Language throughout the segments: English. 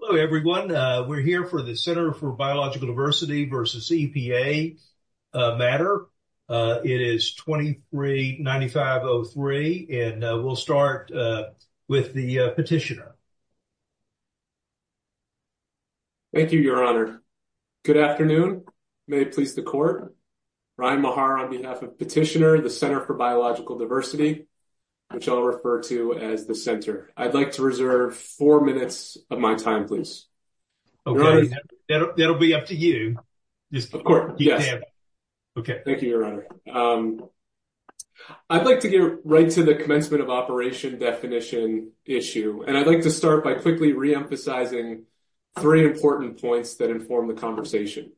Hello everyone. We're here for the Center for Biological Diversity v. EPA matter. It is 23-9503 and we'll start with the petitioner. Thank you, your honor. Good afternoon. May it please the court. Ryan Mahar on behalf of Petitioner, the Center for Biological Diversity, which I'll refer to as the center. I'd like to Okay. That'll be up to you. Of course. Yes. Okay. Thank you, your honor. I'd like to get right to the commencement of operation definition issue. And I'd like to start by quickly reemphasizing three important points that inform the conversation.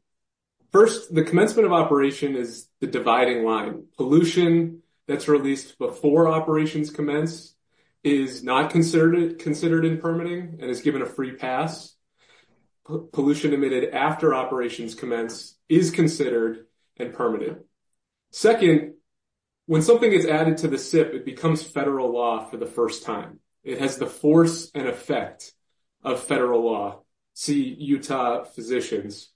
First, the commencement of operation is the dividing line. Pollution that's released before operations commence is not considered in permitting and is given a free pass. Pollution emitted after operations commence is considered and permitted. Second, when something is added to the SIP, it becomes federal law for the first time. It has the force and effect of federal law. See Utah Physicians.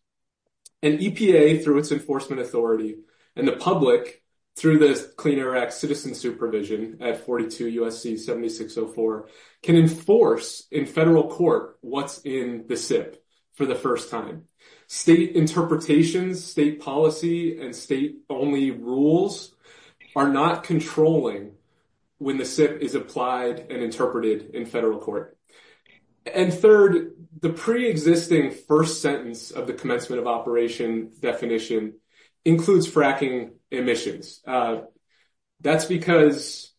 And EPA through its enforcement authority and the public through Clean Air Act citizen supervision at 42 USC 7604 can enforce in federal court what's in the SIP for the first time. State interpretations, state policy and state only rules are not controlling when the SIP is applied and interpreted in federal court. And third, the pre-existing first sentence of the commencement of operation definition includes fracking emissions. That's because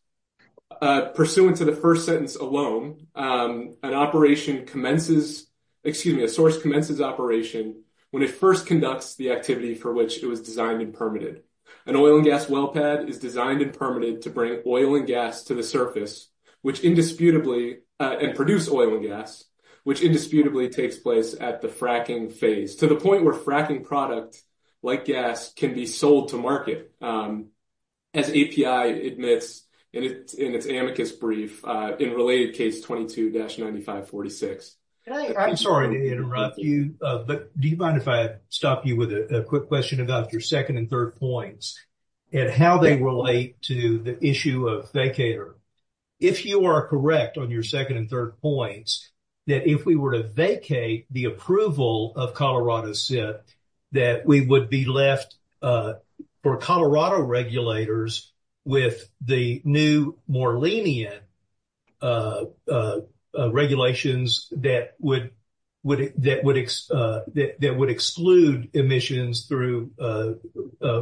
pursuant to the first sentence alone, an operation commences, excuse me, a source commences operation when it first conducts the activity for which it was designed and permitted. An oil and gas well pad is designed and permitted to bring oil and gas to the surface, which indisputably and produce oil and gas, which indisputably takes place at the fracking phase to the point where fracking products like gas can be sold to market as API admits in its amicus brief in related case 22-9546. I'm sorry to interrupt you, but do you mind if I stop you with a quick question about your second and third points and how they relate to the issue of vacator? If you are correct on your second and third points, that if we were to vacate the approval of Colorado SIP, that we would be left for Colorado regulators with the new more lenient regulations that would exclude emissions through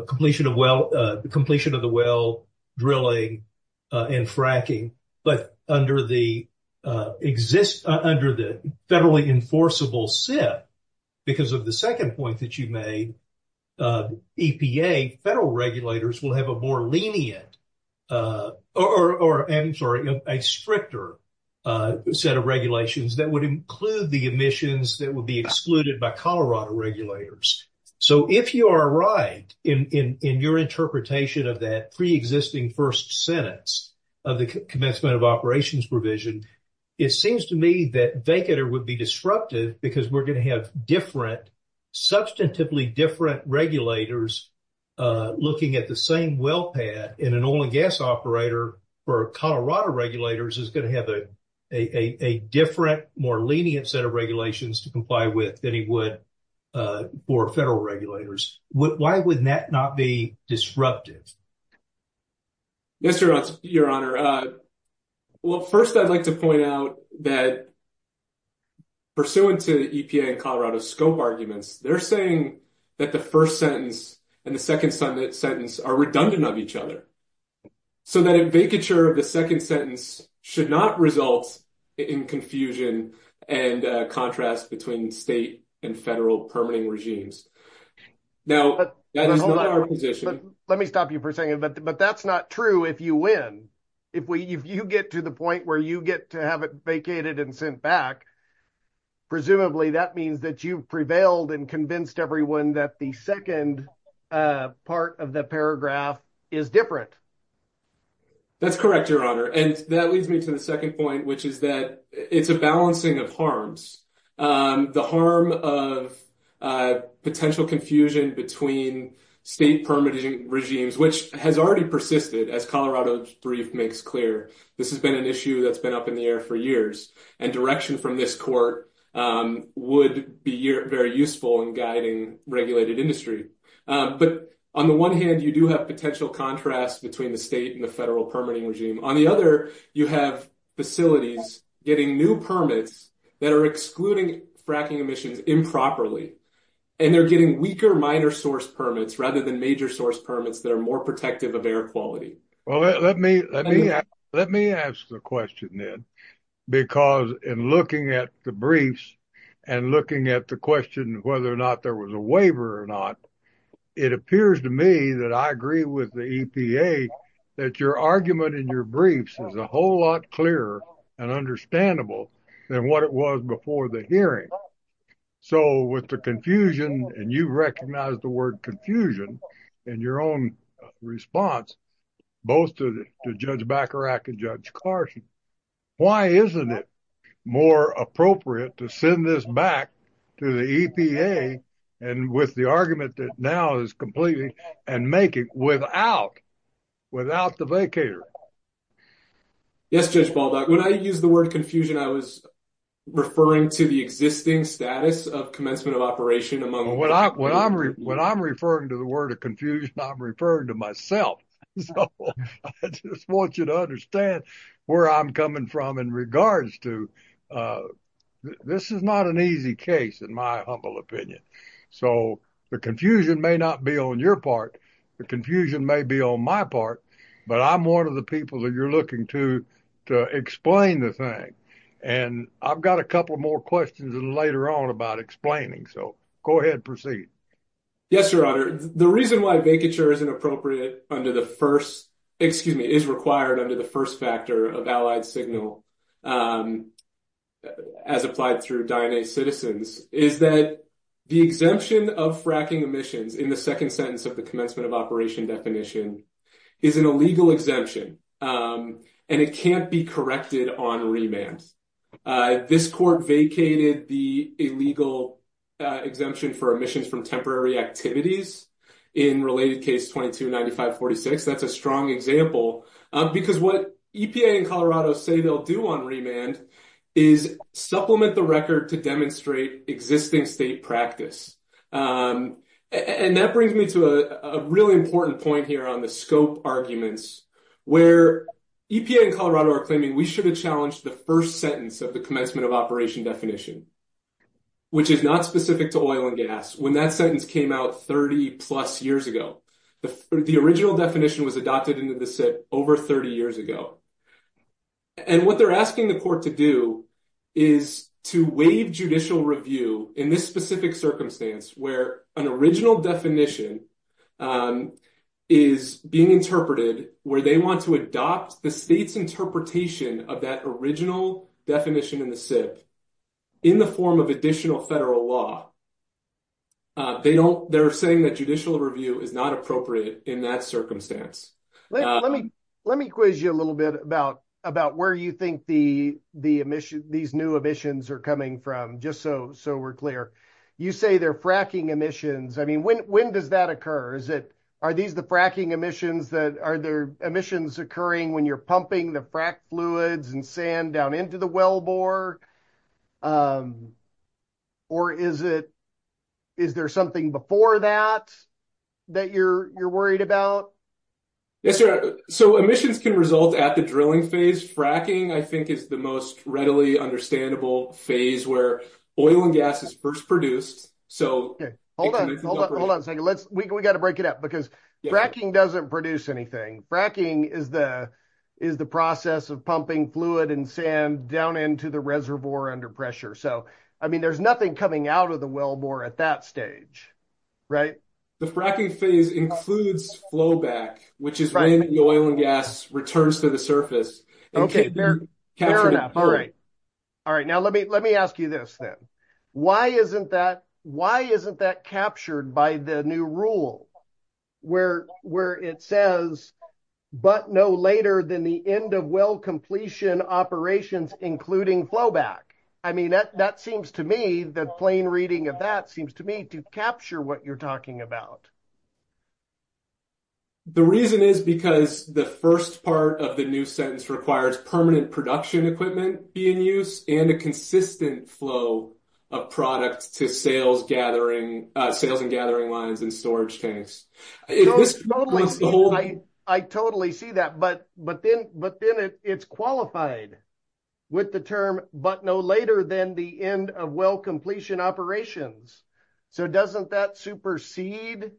completion of the well drilling and fracking. But under the federally enforceable SIP, because of the second point that you made, EPA, federal regulators will have a more lenient, or I'm sorry, a stricter set of regulations that would include the emissions that would be excluded by Colorado regulators. So if you are right in your interpretation of that pre-existing first sentence of the commencement of operations provision, it seems to me that vacator would be disruptive because we're going to have different, substantively different regulators looking at the same well pad and an oil and gas operator for Colorado regulators is going to have a different, more lenient set of regulations to comply with than he would for federal regulators. Why would that not be disruptive? Yes, your honor. Well, first I'd like to point out that pursuant to the EPA and Colorado scope arguments, they're saying that the first sentence and the second sentence are redundant of each other. So that vacature of the second sentence should not result in confusion and contrast between state and federal permitting regimes. Now, that is not our position. Let me stop you for a second, but that's not true if you win. If you get to the point where you get to have it vacated and sent back, presumably that means that you've prevailed and convinced everyone that the second part of the paragraph is different. That's correct, your honor. And that leads me to the second point, which is that it's a balancing of harms. The harm of potential confusion between state permitting regimes, which has already persisted as Colorado brief makes clear. This has been an issue that's been up in the air for years and direction from this court would be very useful in guiding regulated industry. But on the one hand, you do have potential contrast between the state and the new permits that are excluding fracking emissions improperly. And they're getting weaker, minor source permits rather than major source permits that are more protective of air quality. Well, let me let me let me ask the question then, because in looking at the briefs and looking at the question of whether or not there was a waiver or not, it appears to me that I agree with the EPA that your argument in your briefs is a whole lot clearer and understandable than what it was before the hearing. So with the confusion and you recognize the word confusion in your own response, both to Judge Bacharach and Judge Carson, why isn't it more appropriate to send this back to the EPA and with the argument that now is completely and make it without without the vacator? Yes, Judge Baldock, when I use the word confusion, I was referring to the existing status of commencement of operation among what I when I'm when I'm referring to the word of confusion, I'm referring to myself. So I just want you to understand where I'm coming from in regards to this is not an easy case, in my humble opinion. So the confusion may not be on your part. The confusion may be on my part, but I'm one of the people that you're looking to to explain the thing. And I've got a couple more questions later on about explaining. So go ahead. Proceed. Yes, Your Honor. The reason why vacature is inappropriate under the first excuse me, is required under the first factor of allied signal as applied through DNA citizens is that the exemption of fracking emissions in the second sentence of the commencement of operation definition is an illegal exemption and it can't be corrected on remand. This court vacated the illegal exemption for emissions from temporary activities in related case 229546. That's a strong example because what EPA and Colorado say they'll do on remand is supplement the record to demonstrate existing state practice. And that brings me to a really important point here on the scope arguments where EPA and Colorado are claiming we should have challenged the first sentence of the commencement of operation definition, which is not specific to oil and gas. When that sentence came out 30 plus years ago, the original definition was adopted into the SIP over 30 years ago. And what they're asking the court to do is to waive judicial review in this specific circumstance where an original definition is being interpreted, where they want to adopt the state's interpretation of that original definition in the SIP in the form of federal law. They're saying that judicial review is not appropriate in that circumstance. Let me quiz you a little bit about where you think these new emissions are coming from, just so we're clear. You say they're fracking emissions. I mean, when does that occur? Are these the fracking emissions? Are there emissions occurring when you're pumping the fluids and sand down into the well bore? Or is there something before that that you're worried about? Yes, sir. So emissions can result at the drilling phase. Fracking, I think, is the most readily understandable phase where oil and gas is first produced. Hold on a second. We got to pumping fluid and sand down into the reservoir under pressure. So, I mean, there's nothing coming out of the well bore at that stage, right? The fracking phase includes flow back, which is when the oil and gas returns to the surface. Okay, fair enough. All right. All right. Now, let me ask you this then. Why isn't that captured by the new rule where it says, but no later than the end of well completion operations, including flow back? I mean, that seems to me, the plain reading of that seems to me to capture what you're talking about. The reason is because the first part of the new sentence requires permanent production equipment be in use and a consistent flow of products to sales and gathering lines and storage tanks. I totally see that, but then it's qualified with the term, but no later than the end of well completion operations. So, doesn't that supersede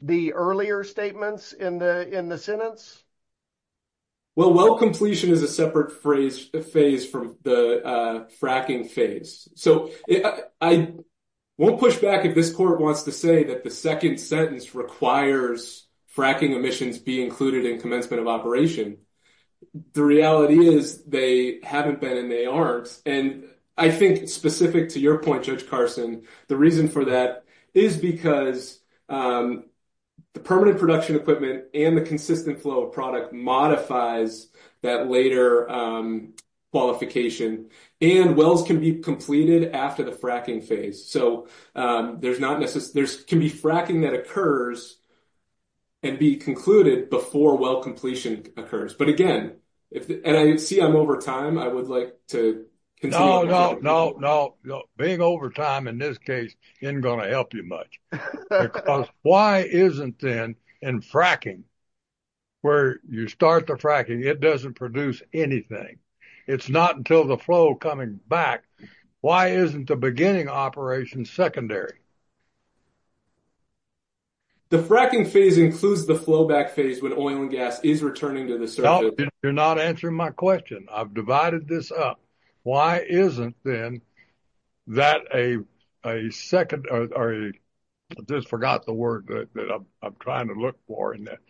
the earlier statements in the sentence? Well, well completion is a separate phase from the fracking phase. So, I won't push back if this court wants to say that the second sentence requires fracking emissions be included in commencement of operation. The reality is they haven't been, and they aren't. And I think specific to your point, Judge Carson, the reason for that is because the permanent production equipment and the consistent flow of product modifies that later qualification and wells can be completed after the fracking phase. So, there can be fracking that occurs and be concluded before well completion occurs. But again, and I see I'm over time, I would like to continue. No, no, no, being over time in this case isn't going to help you much. Because why isn't then in fracking, where you start the fracking, it doesn't produce anything. It's not until the flow coming back. Why isn't the beginning operation secondary? The fracking phase includes the flow back phase when oil and gas is returning to the circuit. You're not answering my question. I've divided this up. Why isn't then that a second, or I just forgot the word that I'm trying to look for in there.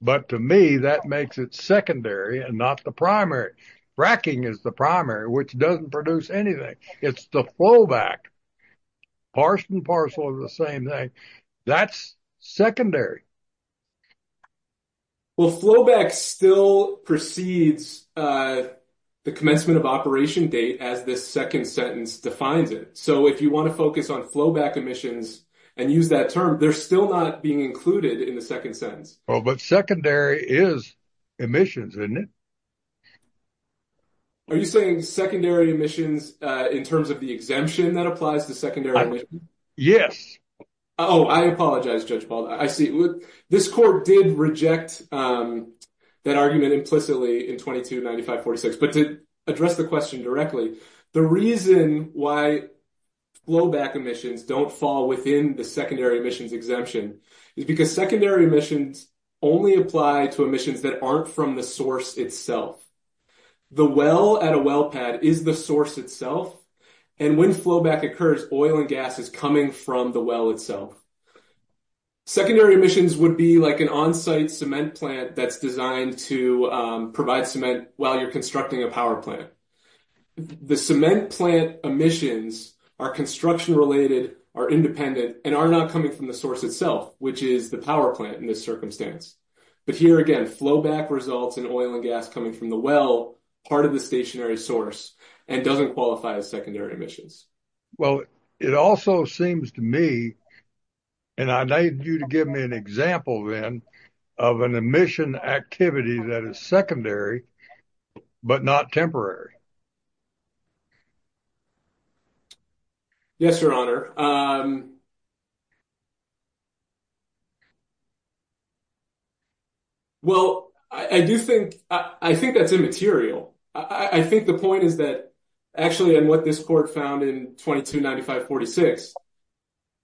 But to me, that makes it secondary and not the primary. Fracking is the primary, which doesn't produce anything. It's the flow back. Parse and parcel are the same thing. That's secondary. Well, flow back still precedes the commencement of operation date as this second sentence defines it. So, if you want to focus on flow back emissions and use that term, they're still not being included in the second sentence. Oh, but secondary is emissions, isn't it? Are you saying secondary emissions in terms of the exemption that applies to secondary? Yes. Oh, I apologize, Judge Paul. I see. This court did reject that argument implicitly in 2295-46. But to address the question directly, the reason why flow back emissions don't fall within the secondary emissions exemption is because secondary emissions only apply to emissions that aren't from the source itself. The well at a well pad is the source itself. And when flow back occurs, oil and gas is coming from the well itself. Secondary emissions would be like an on-site cement plant that's designed to provide cement while you're constructing a power plant. The cement plant emissions are construction related, are independent, and are not coming from the source itself, which is the power plant in this circumstance. But here again, flow back results in oil and gas coming from the well, part of the stationary source, and doesn't qualify as secondary emissions. Well, it also seems to me, and I need you to give me an example then, of an emission activity that is secondary but not temporary. Yes, Your Honor. Well, I do think, I think that's immaterial. I think the point is that, actually, and what this court found in 2295-46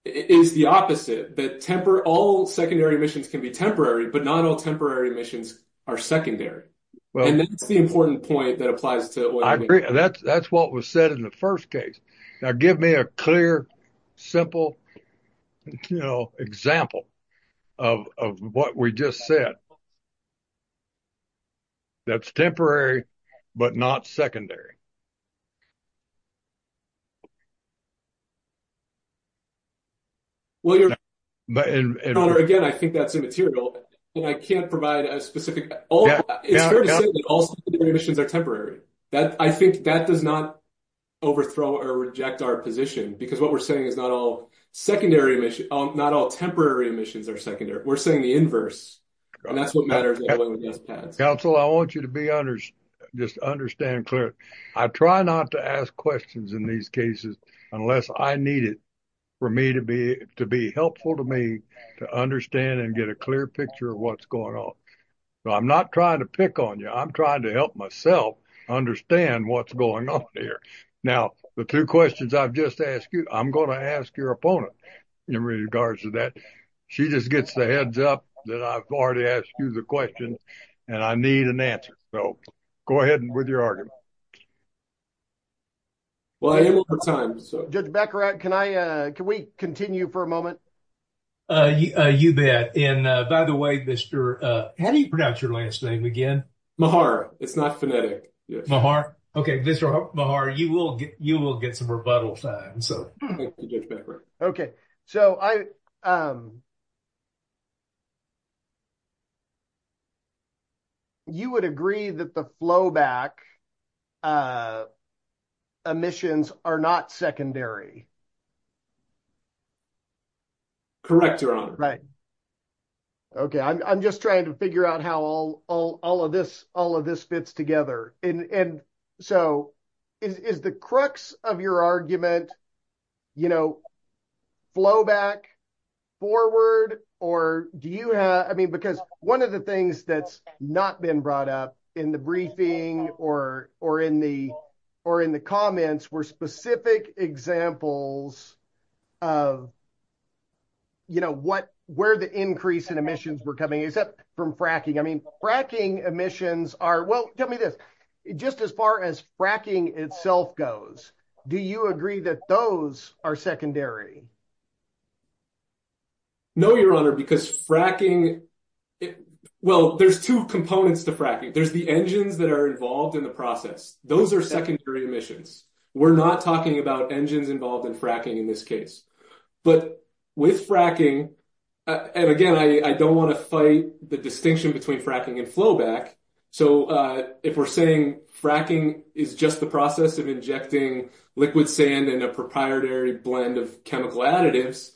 is the opposite, that all secondary emissions can be temporary, but not all temporary emissions are secondary. And that's the important point that applies to that. That's what was said in the first case. Now give me a clear, simple, you know, example of what we just said. That's temporary, but not secondary. Well, Your Honor, again, I think that's immaterial, and I can't provide a specific, it's fair to say that all secondary emissions are temporary. I think that does not overthrow or reject our position, because what we're saying is not all secondary emissions, not all temporary emissions are secondary. We're saying the inverse, and that's what matters in oil and gas pads. Counsel, I want you to be honest, just understand clearly. I try not to ask questions in these cases unless I need it for me to be helpful to me to understand and get a clear picture of what's going on. So I'm not trying to pick on you. I'm trying to help myself understand what's going on here. Now, the two questions I've just asked you, I'm going to ask your opponent in regards to that. She just gets the heads up that I've already asked you the question, and I need an answer. So go ahead with your argument. Well, I have a little more time. Judge Becker, can we continue for a moment? You bet. And by the way, Mr., how do you pronounce your last name again? Mahar. It's not phonetic. Mahar. Okay. Mr. Mahar, you will get some rebuttal time. Thank you, Judge Becker. Okay. So you would agree that the flowback omissions are not secondary? Correct, Your Honor. Right. Okay. I'm just trying to figure out how all of this fits together. And so is the crux of your argument flowback forward? Because one of the things that's been brought up in the briefing or in the comments were specific examples of where the increase in emissions were coming except from fracking. I mean, fracking emissions are... Well, tell me this. Just as far as fracking itself goes, do you agree that those are secondary? No, Your Honor, because fracking... Well, there's two components to fracking. There's the engines that are involved in the process. Those are secondary emissions. We're not talking about engines involved in fracking in this case. But with fracking... And again, I don't want to fight the distinction between fracking and flowback. So if we're saying fracking is just the process of injecting liquid sand and a proprietary blend of chemical additives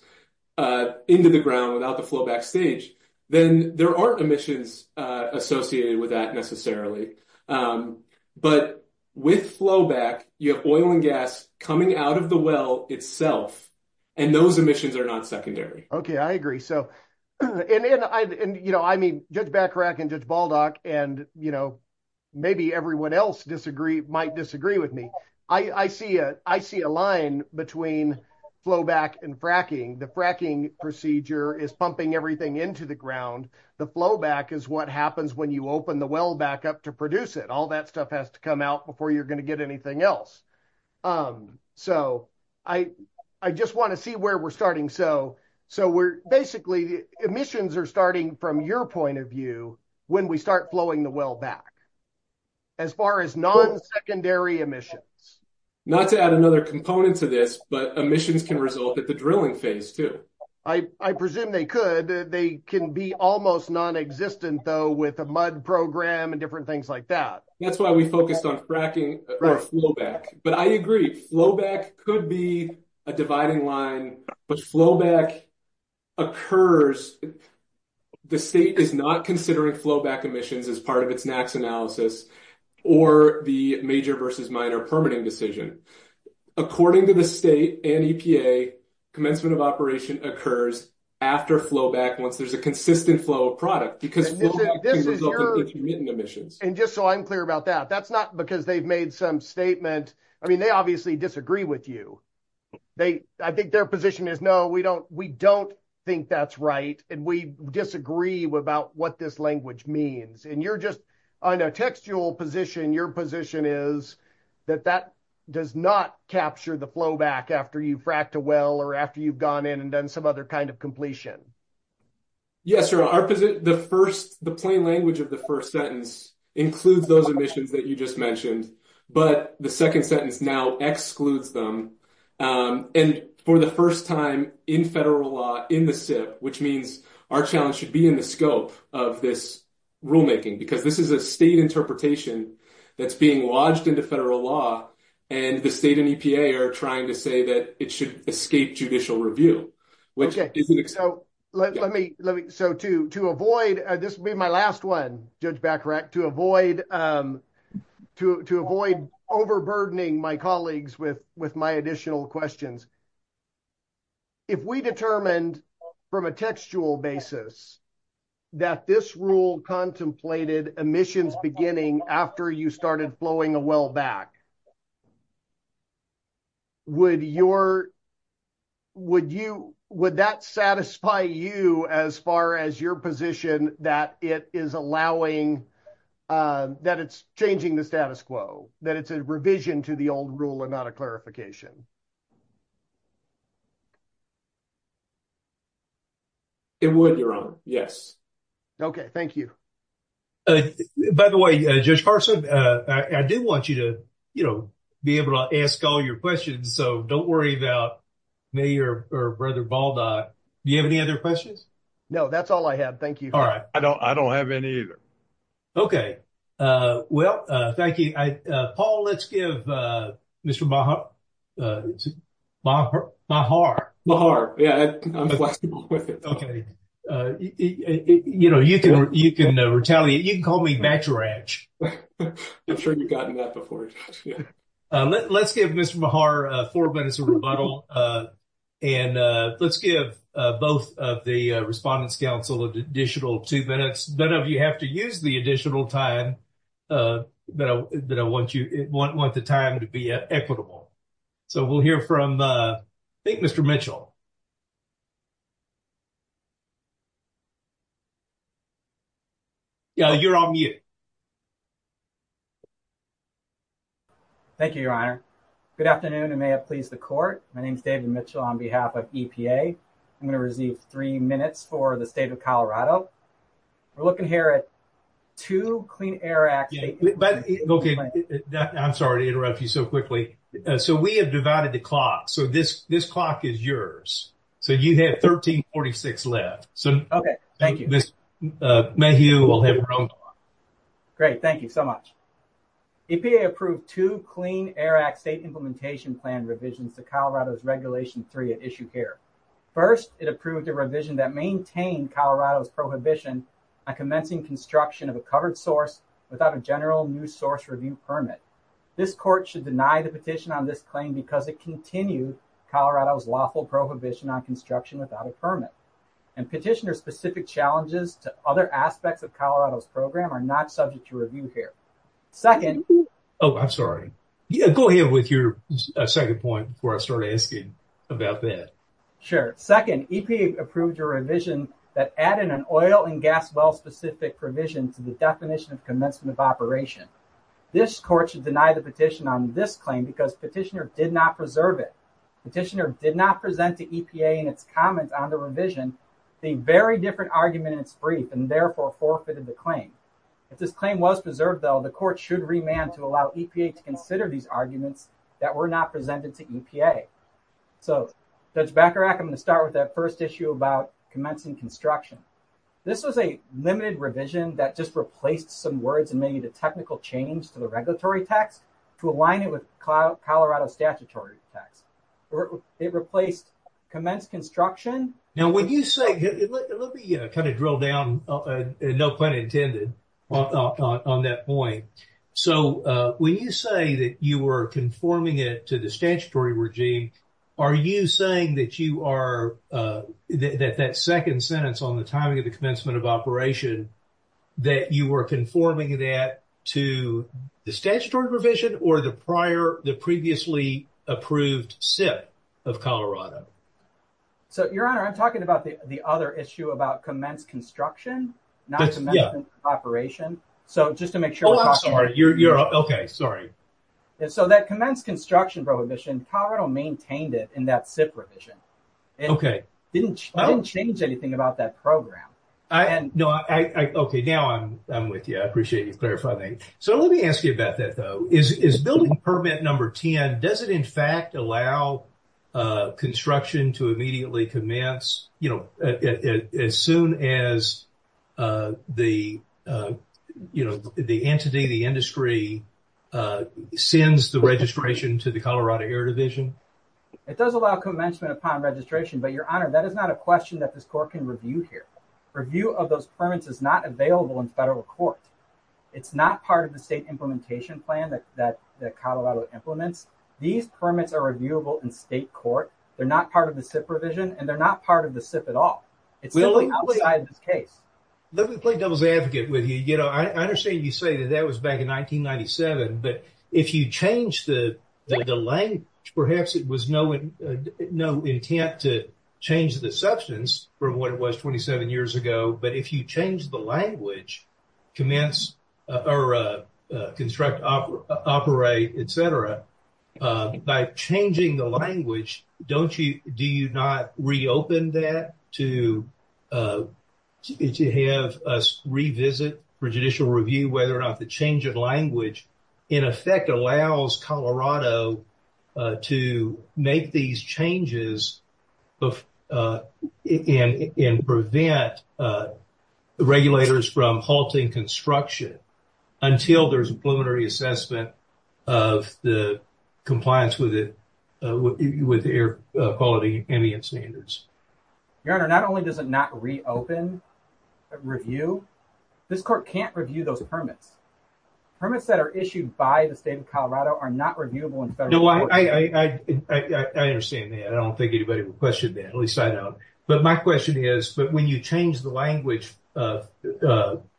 into the ground without the flowback stage, then there aren't emissions associated with that necessarily. But with flowback, you have oil and gas coming out of the well itself, and those emissions are not secondary. Okay. I agree. And I mean, Judge Bachrach and Judge Baldock, and maybe everyone else might disagree with me. I see a line between flowback and fracking. The fracking procedure is pumping everything into the ground. The flowback is what happens when you open the well back up to produce it. All that stuff has to come out before you're going to get anything else. So I just want to see where we're starting. So basically, emissions are starting from your point of view when we start flowing the well back as far as non-secondary emissions. Not to add another component to this, but emissions can result at the drilling phase too. I presume they could. They can be almost non-existent though with a mud program and different things like that. That's why we focused on fracking or flowback. But I agree. Flowback could be a dividing line, but flowback occurs. The state is not considering flowback emissions as part of its NAAQS analysis or the major versus minor permitting decision. According to the state and EPA, commencement of operation occurs after flowback once there's a consistent flow of product because flowback can result in intermittent emissions. And just so I'm clear about that, that's not because they've made some statement. I mean, they obviously disagree with you. I think their position is, no, we don't think that's right, and we disagree about what this language means. And you're just on a textual position. Your position is that that does not capture the flowback after you've fracked a well or after you've gone in and done some other kind of completion. Yes, sir. The plain language of the first sentence includes those emissions that you just mentioned. But the second sentence excludes them. And for the first time in federal law, in the SIP, which means our challenge should be in the scope of this rulemaking, because this is a state interpretation that's being lodged into federal law, and the state and EPA are trying to say that it should escape judicial review. Okay, so let me, so to avoid, this will be my last one, Judge Bacharach, to avoid overburdening my colleagues with my additional questions. If we determined from a textual basis that this rule contemplated emissions beginning after you started flowing a well back, would your, would you, would that satisfy you as far as your position that it is allowing, that it's changing the status quo, that it's a revision to the old rule and not a clarification? It would, Your Honor, yes. Okay, thank you. By the way, Judge Carson, I do want you to, you know, be able to ask all your questions, so don't worry about me or Brother Baldock. Do you have any other questions? No, that's all I have. Thank you. All right. I don't, I don't have any either. Okay. Well, thank you. Paul, let's give Mr. Bacharach, Bacharach, Bacharach. Yeah, I'm flexible with it. Okay. You know, you can, you can retaliate, you can call me Bacharach. I'm sure you've gotten that before. Let's give Mr. Bachar four minutes of rebuttal, and let's give both of the Respondents' Council an additional two minutes. None of you have to use the additional time that I want you, want the time to be equitable. So we'll hear from, I think Mr. Mitchell. Yeah, you're on mute. Thank you, Your Honor. Good afternoon, and may it please the Court. My name is David Mitchell on behalf of EPA. I'm going to receive three minutes for the State of Colorado. We're looking here at two Clean Air Act... Okay. I'm sorry to interrupt you so quickly. So we have divided the clock. So this, this clock is yours. So you have 1346 left. Okay. Thank you. Ms. Mayhew will have her own clock. Great. Thank you so much. EPA approved two Clean Air Act State Implementation Plan revisions to Colorado's Regulation 3 at issue here. First, it approved a revision that maintained Colorado's prohibition on commencing construction of a covered source without a general new source review permit. This Court should deny the petition on this claim because it continued Colorado's lawful prohibition on construction without a permit, and petitioner-specific challenges to other aspects of Colorado's program are not subject to review here. Second... Oh, I'm sorry. Go ahead with your second point before I start asking about that. Sure. Second, EPA approved a revision that added an oil and gas well-specific provision to the definition of commencement of operation. This Court should deny the petition on this claim because petitioner did not preserve it. Petitioner did not present to EPA in its comment on the revision a very different argument in its brief and therefore forfeited the claim. If this claim was preserved, though, the Court should remand to allow EPA to consider these arguments that were not presented to EPA. So, Judge Bacharach, I'm going to start with that first issue about commencing construction. This was a limited revision that just replaced some words and made a technical change to the regulatory text to align it with Colorado's statutory text. It replaced commence construction... Now, when you say... Let me kind of drill down, no pun intended on that point. So, when you say that you were conforming it to the statutory regime, are you saying that you are... That that second sentence on the timing of the commencement of operation, that you were conforming that to the statutory revision or the prior, the previously approved SIP of Colorado? So, Your Honor, I'm talking about the other issue about commence construction, not commencement of operation. So, just to make sure... Oh, I'm sorry. You're... Okay, sorry. So, that commence construction prohibition, Colorado maintained it in that SIP revision. Okay. It didn't change anything about that program. I... No, I... Okay, now I'm with you. I appreciate you clarifying. So, let me ask you about that, though. Is building permit number 10, does it, in fact, allow construction to immediately commence as soon as the entity, the industry, sends the registration to the Colorado Air Division? It does allow commencement upon registration, but, Your Honor, that is not a question that this court can review here. Review of those permits is not available in federal court. It's not part of the state implementation plan that Colorado implements. These permits are reviewable in state court. They're not part of the SIP revision, and they're not part of the SIP at all. It's simply outside this case. Let me play devil's advocate with you. You know, I understand you say that that was back in 1997, but if you change the language, perhaps it was no intent to change the substance from what it was 27 years ago, but if you change the language, commence or construct, operate, et cetera, by changing the language, don't you... Do you not reopen that to have us revisit for judicial review whether or not the change of language, in effect, allows Colorado to make these changes and prevent regulators from halting construction until there's a preliminary assessment of the compliance with the air quality standards? Your Honor, not only does it not reopen review, this court can't review those permits. Permits that are issued by the state of Colorado are not reviewable in federal court. I understand that. I don't think anybody would question that, at least I don't. But my question is, when you change the language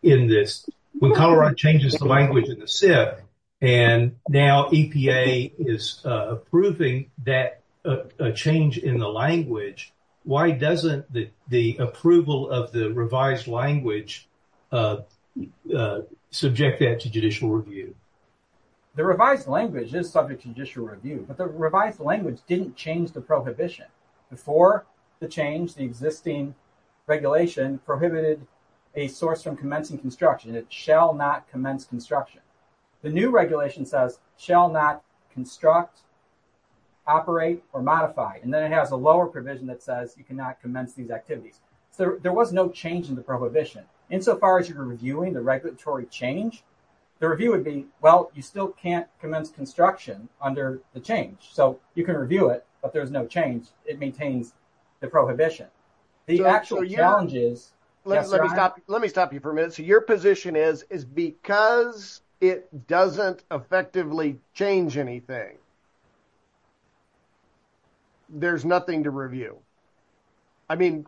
in this, when Colorado changes the language in the SIP, and now EPA is approving that change in the language, why doesn't the approval of the revised language subject that to judicial review? The revised language is subject to judicial review, but the revised language didn't change the prohibition. Before the change, the existing regulation prohibited a source from commencing construction. It shall not commence construction. The new regulation says, shall not construct, operate, or modify, and then it has a lower provision that says you cannot commence these activities. So there was no change in the so far as you were reviewing the regulatory change, the review would be, well, you still can't commence construction under the change. So you can review it, but there's no change. It maintains the prohibition. The actual challenge is... Let me stop you for a minute. So your position is, is because it doesn't effectively change anything, there's nothing to review. I mean...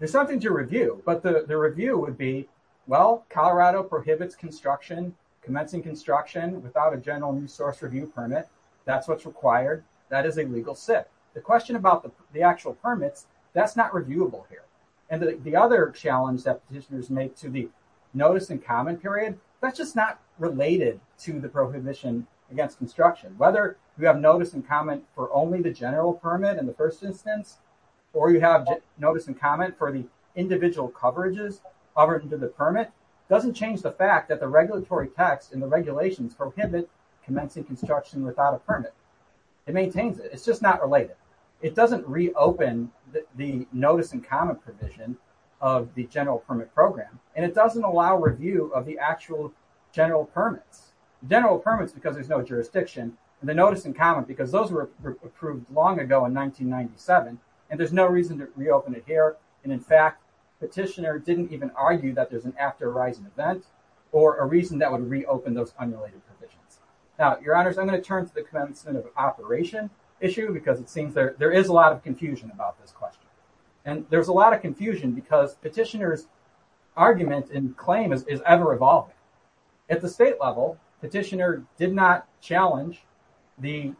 There's something to review, but the review would be, well, Colorado prohibits construction, commencing construction without a general resource review permit. That's what's required. That is a legal SIP. The question about the actual permits, that's not reviewable here. And the other challenge that petitioners make to the notice and comment period, that's just not related to the prohibition against construction. Whether you have notice and comment for only the permit in the first instance, or you have notice and comment for the individual coverages other than the permit, doesn't change the fact that the regulatory text and the regulations prohibit commencing construction without a permit. It maintains it. It's just not related. It doesn't reopen the notice and comment provision of the general permit program. And it doesn't allow review of the actual general permits. General permits, because there's no reason to reopen it here. And in fact, petitioner didn't even argue that there's an after horizon event or a reason that would reopen those unrelated provisions. Now, your honors, I'm going to turn to the commencement of operation issue because it seems there is a lot of confusion about this question. And there's a lot of confusion because petitioners' argument and claim is ever evolving. At the state level, petitioner did not challenge the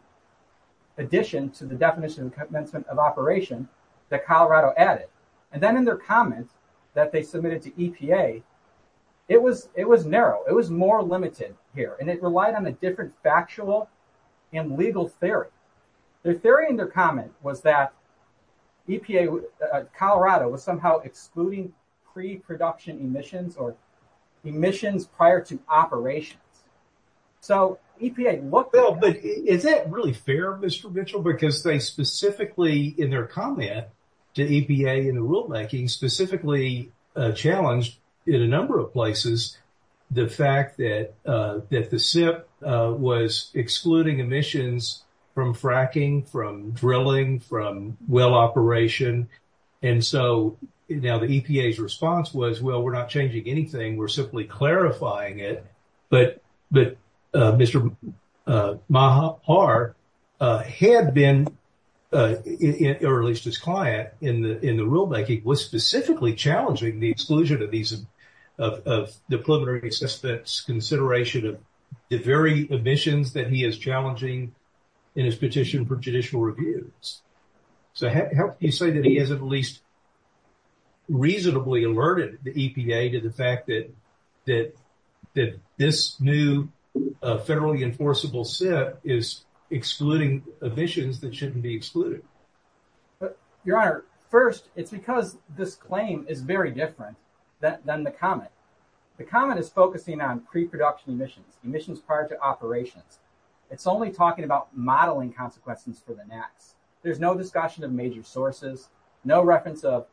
addition to definition of commencement of operation that Colorado added. And then in their comment that they submitted to EPA, it was narrow. It was more limited here. And it relied on a different factual and legal theory. Their theory and their comment was that EPA, Colorado was somehow excluding pre-production emissions or emissions prior to operations. So EPA looked at that. Is that really fair, Mr. Mitchell? Because they specifically in their comment to EPA in the rulemaking specifically challenged in a number of places the fact that the SIP was excluding emissions from fracking, from drilling, from well operation. And so now the EPA's response was, well, we're not changing anything. We're simply clarifying it. But Mr. Maher had been or at least his client in the rulemaking was specifically challenging the exclusion of these of the preliminary assessment's consideration of the very emissions that he is challenging in his petition for judicial reviews. So how can you say that he has at least reasonably alerted the EPA to the fact that this new federally enforceable SIP is excluding emissions that shouldn't be excluded? Your Honor, first, it's because this claim is very different than the comment. The comment is focusing on pre-production emissions, emissions prior to operations. It's only talking about modeling consequences for the next. There's no discussion of major sources, no reference of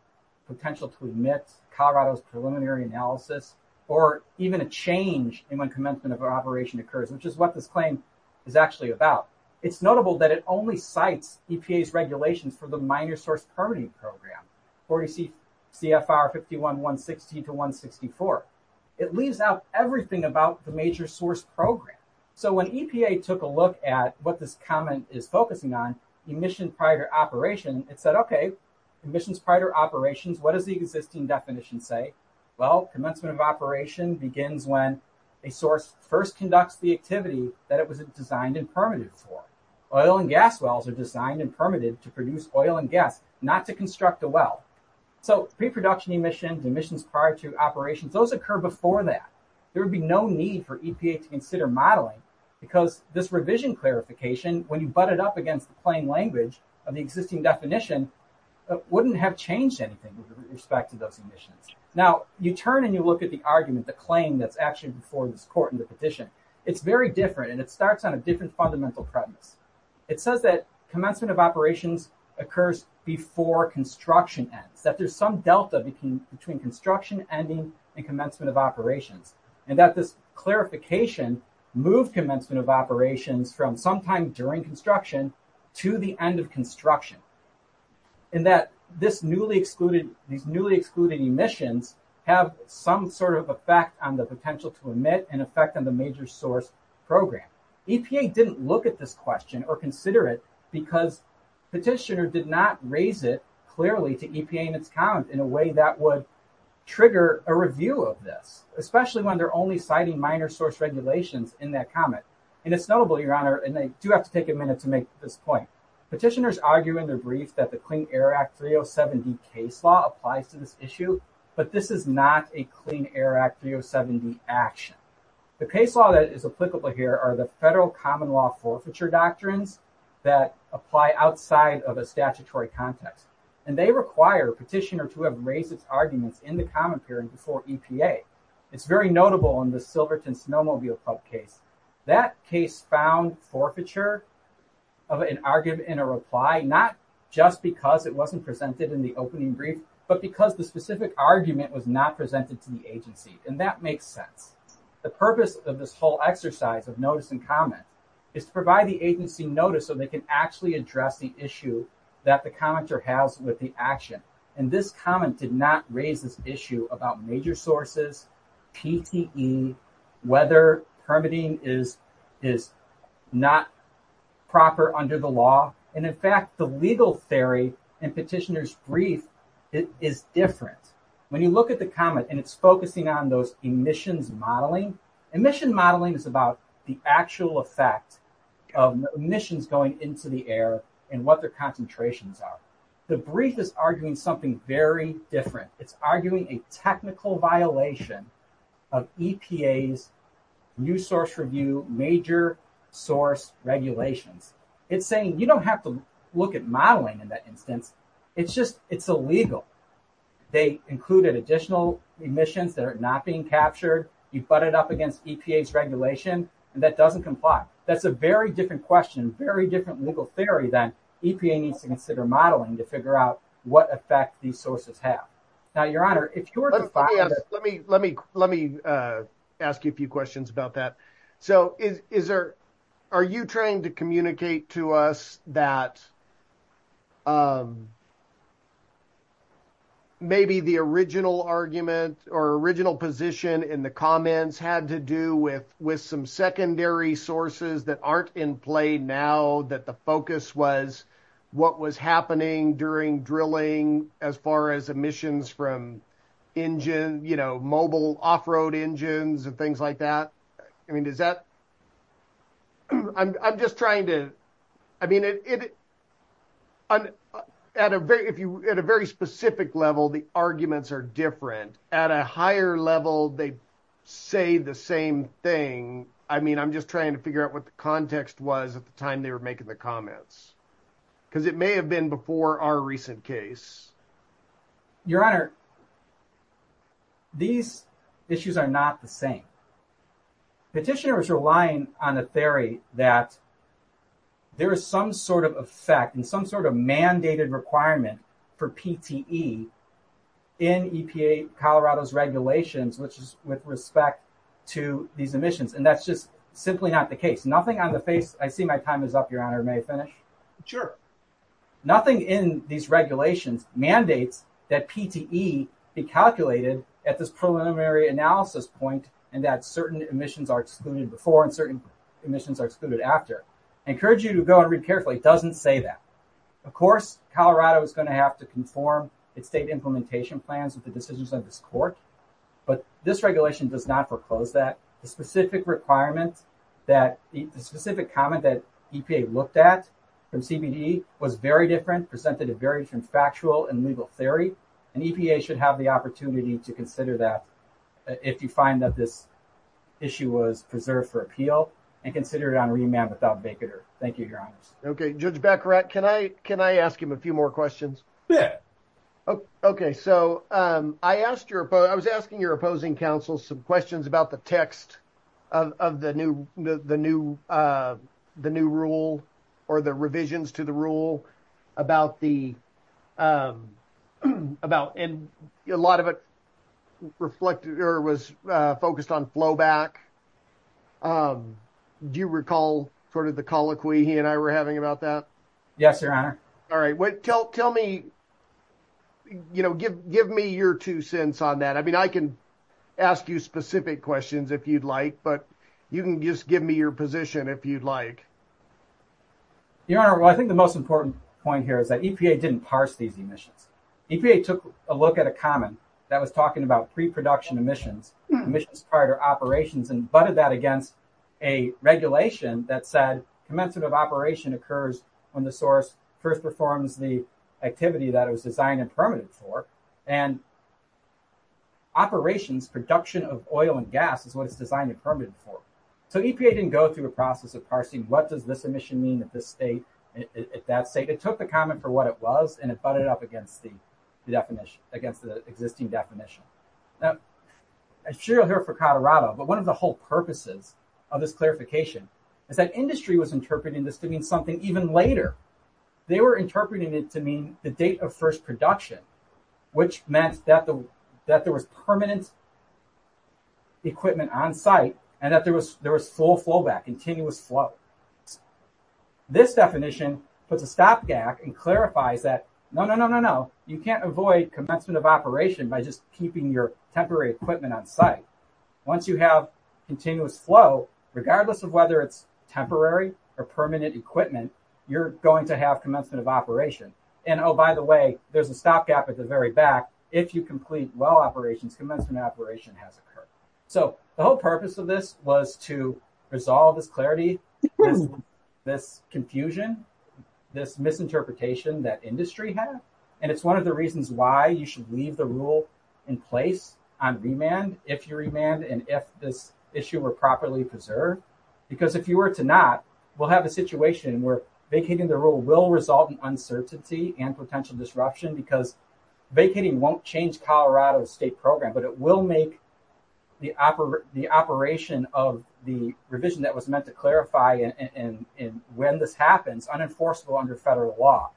potential to emit Colorado's preliminary analysis, or even a change in when commencement of operation occurs, which is what this claim is actually about. It's notable that it only cites EPA's regulations for the minor source permitting program, 40 CFR 51-160 to 164. It leaves out everything about the major source program. So when EPA took a look at what this comment is focusing on, emission prior to operation, it said, okay, emissions prior to operations, what does the existing definition say? Well, commencement of operation begins when a source first conducts the activity that it was designed and permitted for. Oil and gas wells are designed and permitted to produce oil and gas, not to construct a well. So pre-production emissions, emissions prior to operations, those occur before that. There would be no need for EPA to consider modeling because this revision clarification, when you butt it up against the plain language of the existing definition, it wouldn't have changed anything with respect to those emissions. Now, you turn and you look at the argument, the claim that's actually before this court and the petition. It's very different and it starts on a different fundamental premise. It says that commencement of operations occurs before construction ends, that there's some delta between construction ending and commencement of operations. And that this clarification moved commencement of operations from sometime during construction to the end of construction. And that these newly excluded emissions have some sort of effect on the potential to emit and effect on the major source program. EPA didn't look at this question or consider it because petitioner did not raise it clearly to EPA in its count in a way that would trigger a review of this, especially when they're only citing minor source regulations in that comment. And it's notable, your honor, and I do have to take a minute to make this point. Petitioners argue in their brief that the Clean Air Act 307D case law applies to this issue, but this is not a Clean Air Act 307D action. The case law that is applicable here are the federal common law forfeiture doctrines that apply outside of a statutory context. And they require a petitioner to have raised its arguments in the comment period before EPA. It's very notable in the Silverton Snowmobile Pub case. That case found forfeiture of an argument in a reply, not just because it wasn't presented in the opening brief, but because the specific argument was not presented to the agency. And that makes sense. The purpose of this whole exercise of notice and comment is to provide the agency notice so they can actually address the issue that the commenter has with the action. And this comment did not raise this issue about major sources, PTE, whether permitting is not proper under the law. And in fact, the legal theory in petitioner's brief is different. When you look at the comment and it's focusing on those emissions modeling, emission modeling is about the actual effect of emissions going into the air and what their concentrations are. The brief is arguing something very different. It's arguing a technical violation of EPA's new source review, major source regulations. It's saying you don't have to look at modeling in that instance. It's just, it's illegal. They included additional emissions that are not being captured. You butt it up against EPA's regulation and that doesn't comply. That's a very different question, very different legal theory than EPA needs to consider modeling to figure out what effect these sources have. Now, your honor, if you were to find- Let me ask you a few questions about that. So are you trying to communicate to us that maybe the original argument or original position in the comments had to do with some secondary sources that aren't in play now, that the focus was what was happening during drilling as far as emissions from engine, mobile off-road engines and things like that? I mean, at a very specific level, the arguments are different. At a higher level, they say the same thing. I mean, I'm just trying to figure out what the context was at the time they were making the comments because it may have been before our recent case. Your honor, these issues are not the in some sort of mandated requirement for PTE in EPA Colorado's regulations, which is with respect to these emissions. And that's just simply not the case. Nothing on the face. I see my time is up, your honor. May I finish? Sure. Nothing in these regulations mandates that PTE be calculated at this preliminary analysis point and that certain emissions are excluded before and certain emissions are excluded after. I encourage you to go and read carefully. It doesn't say that. Of course, Colorado is going to have to conform its state implementation plans with the decisions of this court. But this regulation does not foreclose that. The specific requirement that the specific comment that EPA looked at from CBD was very different, presented a very different factual and legal theory. And EPA should have the opportunity to consider that if you find that this issue was preserved for appeal and consider it on remand without vacater. Thank you, your honor. Okay, Judge Baccarat, can I can I ask him a few more questions? Yeah. Okay, so I asked your I was asking your opposing counsel some questions about the text of the new the new the new rule, or the flowback. Do you recall sort of the colloquy he and I were having about that? Yes, your honor. All right, wait, tell tell me, you know, give give me your two cents on that. I mean, I can ask you specific questions if you'd like, but you can just give me your position if you'd like. Your honor, I think the most important point here is that EPA didn't parse these emissions. EPA took a look at a comment that was talking about pre-production emissions, emissions prior to operations and butted that against a regulation that said commensurative operation occurs when the source first performs the activity that it was designed and permitted for. And operations production of oil and gas is what it's designed and permitted for. So EPA didn't go through a process of parsing what does this emission mean at this state, at that state. It took the comment for what it was and it butted it up against the definition, against the existing definition. Now I'm sure you'll hear it for Colorado, but one of the whole purposes of this clarification is that industry was interpreting this to mean something even later. They were interpreting it to mean the date of first production, which meant that the, that there was permanent equipment on site and that there was there was full flowback, continuous flow. This definition puts a stopgap and clarifies that no, no, no, no, no, you can't avoid commencement of operation by just keeping your temporary equipment on site. Once you have continuous flow, regardless of whether it's temporary or permanent equipment, you're going to have commencement of operation. And oh, by the way, there's a stopgap at the very back. If you complete well operations, commencement operation has occurred. So the whole purpose of this was to resolve this clarity, this confusion, this misinterpretation that industry had. And it's one of the reasons why you should leave the rule in place on remand, if you're remand, and if this issue were properly preserved, because if you were to not, we'll have a situation where vacating the rule will result in uncertainty and potential disruption because vacating won't change Colorado's state program, but it will make the operation of the revision that was meant to and when this happens, unenforceable under federal law.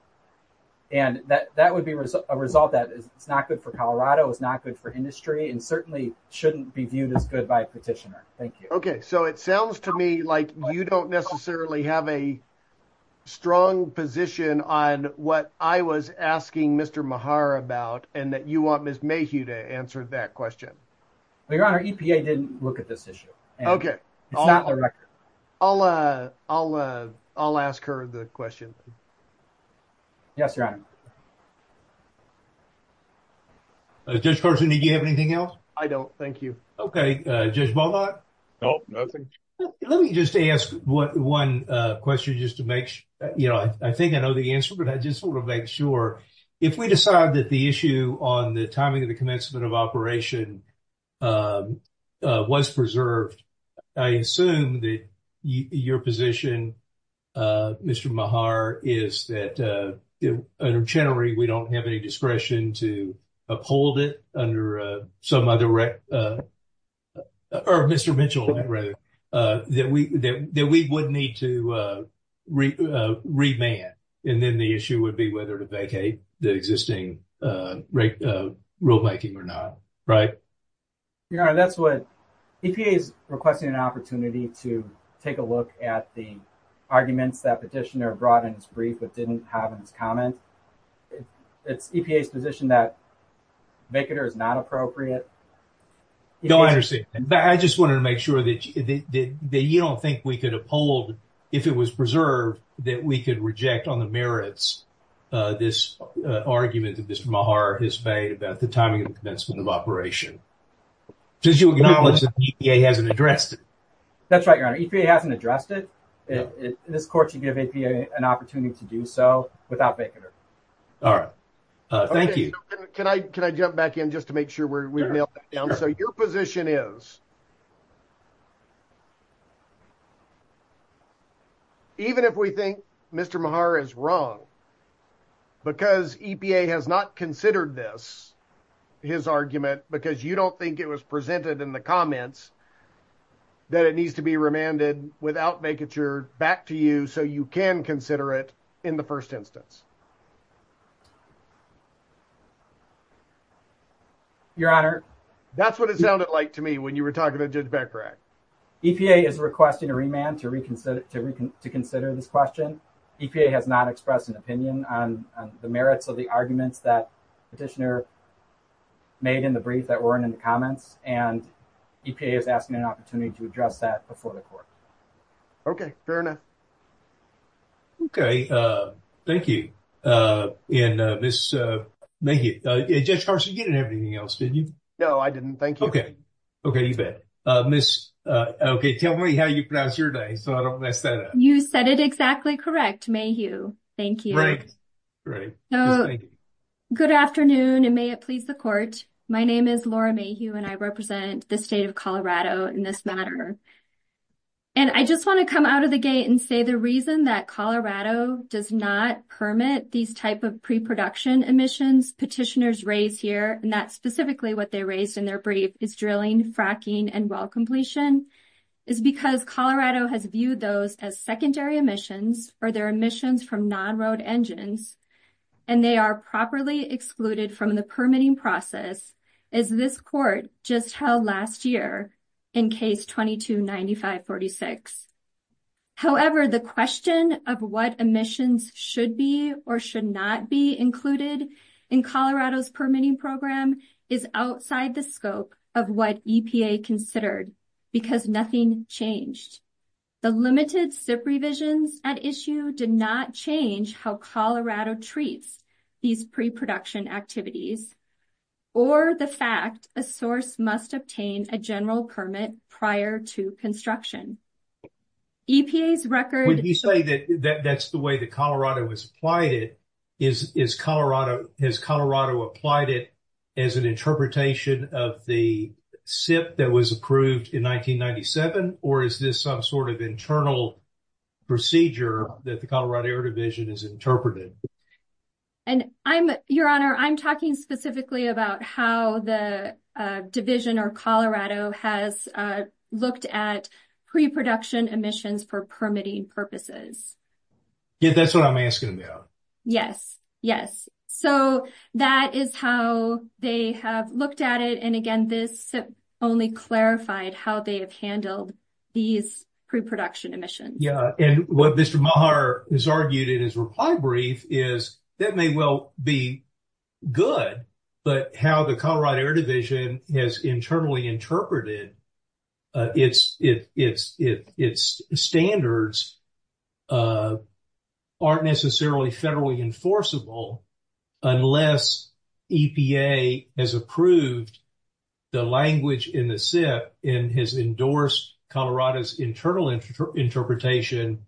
And that would be a result that it's not good for Colorado, it's not good for industry and certainly shouldn't be viewed as good by a petitioner. Thank you. Okay. So it sounds to me like you don't necessarily have a strong position on what I was asking Mr. Mehar about and that you want Ms. Mayhew to answer that question. Your Honor, EPA didn't look at this issue. Okay. I'll ask her the question. Yes, Your Honor. Judge Carson, did you have anything else? I don't. Thank you. Okay. Judge Beaulat. Let me just ask one question just to make sure, you know, I think I know the answer, but I just want to make sure. If we decide that the issue on the timing of the commencement of operation was preserved, I assume that your position, Mr. Mehar, is that under Chenery, we don't have any discretion to uphold it under some other, or Mr. Mitchell, rather, that we would need to remand and then the issue would be whether to vacate the existing rate rulemaking or not, right? Your Honor, that's what, EPA is requesting an opportunity to take a look at the arguments that petitioner brought in his brief but didn't have in his comment. It's EPA's position that vacater is not appropriate. No, I understand, but I just wanted to make sure that you don't think we could uphold, if it was preserved, that we could reject on the merits this argument that Mr. Mehar has made about the timing of the commencement of operation. Did you acknowledge that EPA hasn't addressed it? That's right, Your Honor. EPA hasn't addressed it. In this court, you give EPA an opportunity to do so without vacater. All right. Thank you. Can I jump back in just to make sure we've nailed that down? So your position is, even if we think Mr. Mehar is wrong because EPA has not considered this, his argument, because you don't think it was presented in the comments, that it needs to be remanded without vacature back to you so you can consider it in the first instance. Your Honor. That's what it sounded like to me when you were talking to Judge Beckerack. EPA is requesting a remand to reconsider this question. EPA has not expressed an opinion on the merits of the arguments that Petitioner made in the brief that weren't in the comments, and EPA is asking an opportunity to address that before the court. Okay. Fair enough. Okay. Thank you. Judge Carson, you didn't have anything else, did you? No, I didn't. Thank you. Okay. Okay. You bet. Miss, okay, tell me how you pronounce your name so I don't mess that up. You said it exactly correct, Mayhew. Thank you. Great. Great. So, good afternoon, and may it please the court. My name is Laura Mayhew, and I represent the state of Colorado in this matter. And I just want to come out of the gate and say the reason that Colorado does not permit these type of pre-production emissions Petitioners raise here, and that's specifically what they raised in their brief, is drilling, fracking, and well completion, is because Colorado has viewed those as secondary emissions, or they're emissions from non-road engines, and they are properly excluded from the permitting process, as this court just held last year in Case 22-9546. However, the question of what emissions should be or should not be included in Colorado's permitting program is outside the scope of what EPA considered, because nothing changed. The limited SIP revisions at issue did not change how Colorado treats these pre-production activities, or the fact a source must obtain a general permit prior to construction. EPA's that Colorado has applied it, has Colorado applied it as an interpretation of the SIP that was approved in 1997, or is this some sort of internal procedure that the Colorado Air Division has interpreted? And I'm, your honor, I'm talking specifically about how the division or Colorado has looked at pre-production emissions for permitting purposes. Yeah, that's what I'm asking about. Yes, yes, so that is how they have looked at it, and again this SIP only clarified how they have handled these pre-production emissions. Yeah, and what Mr. Maher has argued in his reply brief is that may well be good, but how the Colorado Air Division has internally interpreted its standards aren't necessarily federally enforceable unless EPA has approved the language in the SIP and has endorsed Colorado's internal interpretation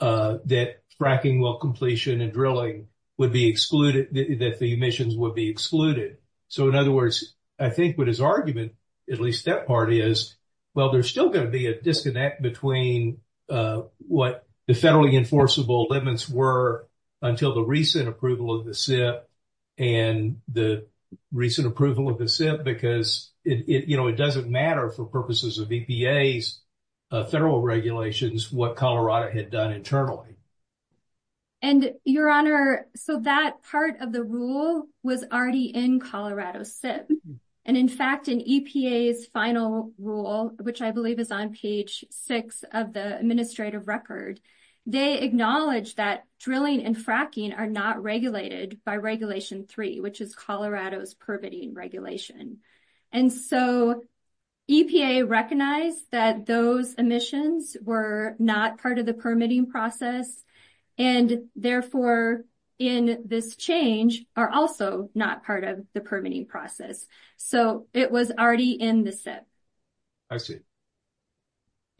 that fracking well completion and drilling would be excluded, that the emissions would be excluded. So, in other words, I think what his argument, at least that part is, well there's still going to be a disconnect between what the federally enforceable limits were until the recent approval of the SIP and the recent approval of the SIP because it, you know, it doesn't matter for purposes of EPA's federal regulations what Colorado had done internally. And your honor, so that part of the rule was already in Colorado SIP, and in fact in EPA's final rule, which I believe is on page six of the administrative record, they acknowledged that drilling and fracking are not regulated by regulation three, which is Colorado's permitting regulation. And so EPA recognized that those emissions were not part of the permitting process, and therefore in this change are also not part of the permitting process. So, it was already in the SIP. I see.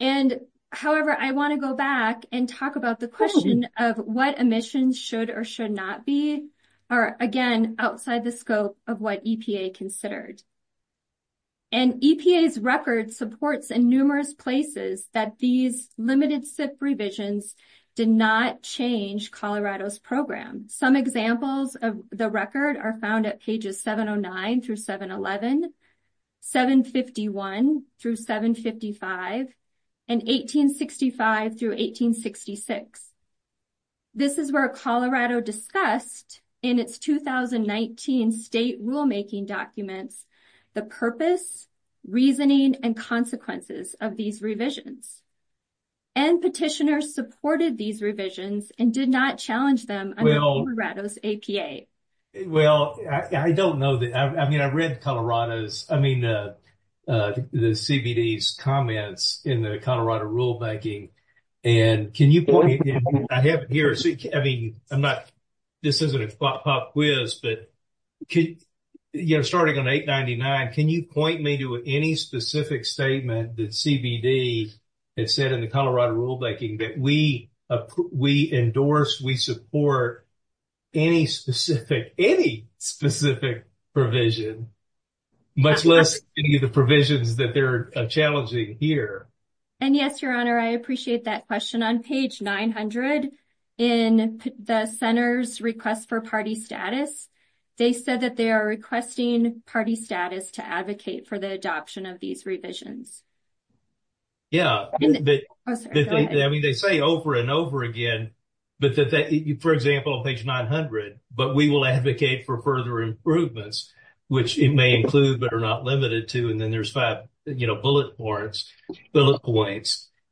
And however, I want to go back and talk about the question of what emissions should or should not be are again outside the scope of what EPA considered. And EPA's record supports in numerous places that these limited SIP revisions did not change Colorado's program. Some examples of the record are found at pages 709 through 711, 751 through 755, and 1865 through 1866. This is where Colorado discussed in its 2019 state rulemaking documents the purpose, reasoning, and consequences of these revisions. And petitioners supported these revisions and did not challenge them under Colorado's APA. Well, I don't know that, I mean, I read Colorado's, I mean, the CBD's comments in the Colorado rulemaking. And can you point me, I have here, I mean, I'm not, this isn't a pop quiz, but could, you know, starting on 899, can you point me to any specific statement that CBD had said in the Colorado rulemaking that we endorse, we support any specific, any specific provision, much less any of the provisions that they're challenging here? And yes, your honor, I appreciate that question. On page 900 in the center's request for party status, they said that they are requesting party status to advocate for the adoption of these revisions. Yeah. I mean, they say over and over again, but that, for example, on page 900, but we will advocate for further improvements, which it may include, but are not limited to. And then there's five, you know, bullet points.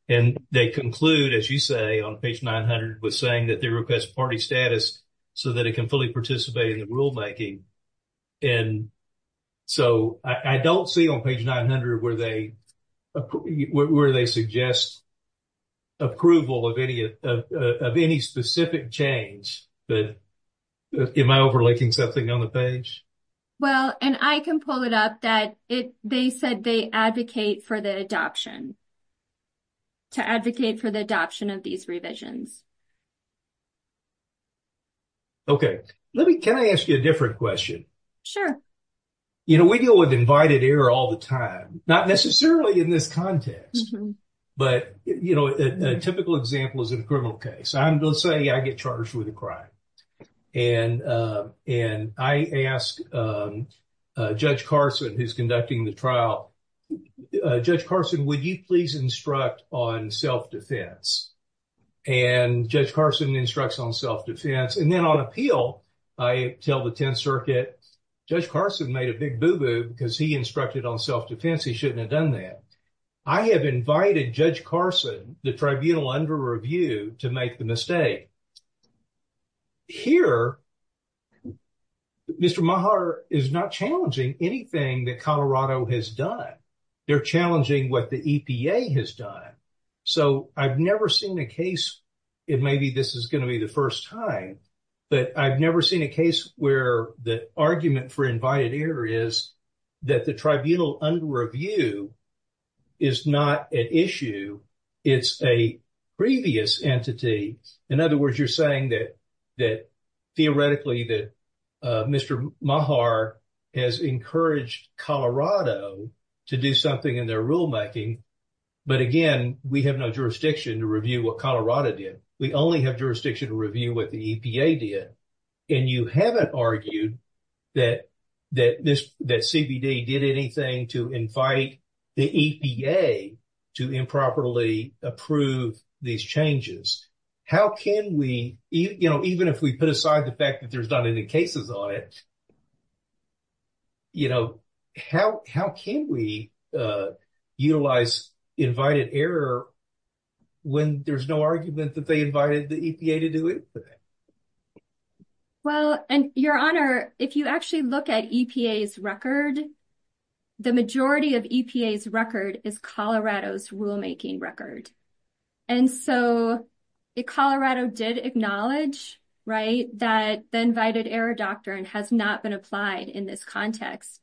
And they conclude, as you say, on page 900, with saying that they request party status so that it can fully participate in the rulemaking. And so I don't see on page 900 where they, where they suggest approval of any specific change, but am I overlooking something on the page? Well, and I can pull it up that it, they said they advocate for the adoption, to advocate for the adoption of these revisions. Okay. Let me, can I ask you a different question? Sure. You know, we deal with invited error all the time, not necessarily in this context, but you know, a typical example is a criminal case. Let's say I get charged with a crime. And I ask Judge Carson, who's conducting the trial, Judge Carson, would you please instruct on self-defense? And Judge Carson instructs on self-defense. And then on appeal, I tell the Tenth Circuit, Judge Carson made a big boo-boo because he instructed on self-defense. He shouldn't have done that. I have invited Judge Carson, the tribunal under review to make the mistake. Here, Mr. Maher is not challenging anything that Colorado has done. They're challenging what the EPA has done. So I've never seen a case, and maybe this is going to be the first time, but I've never seen a case where the argument for invited error is that the tribunal under review is not an issue. It's a previous entity. In other words, you're saying that theoretically that Mr. Maher has encouraged Colorado to do something in their rulemaking. But again, we have no jurisdiction to review what Colorado did. We only have jurisdiction to review what the EPA did. And you haven't argued that CBD did anything to invite the EPA to improperly approve these changes. How can we, even if we put aside the fact that there's not any cases on it, how can we utilize invited error when there's no argument that they invited the EPA to do it? Well, and Your Honor, if you actually look at EPA's record, the majority of EPA's record is Colorado's rulemaking record. And so Colorado did acknowledge that the invited error doctrine has not been applied in this context.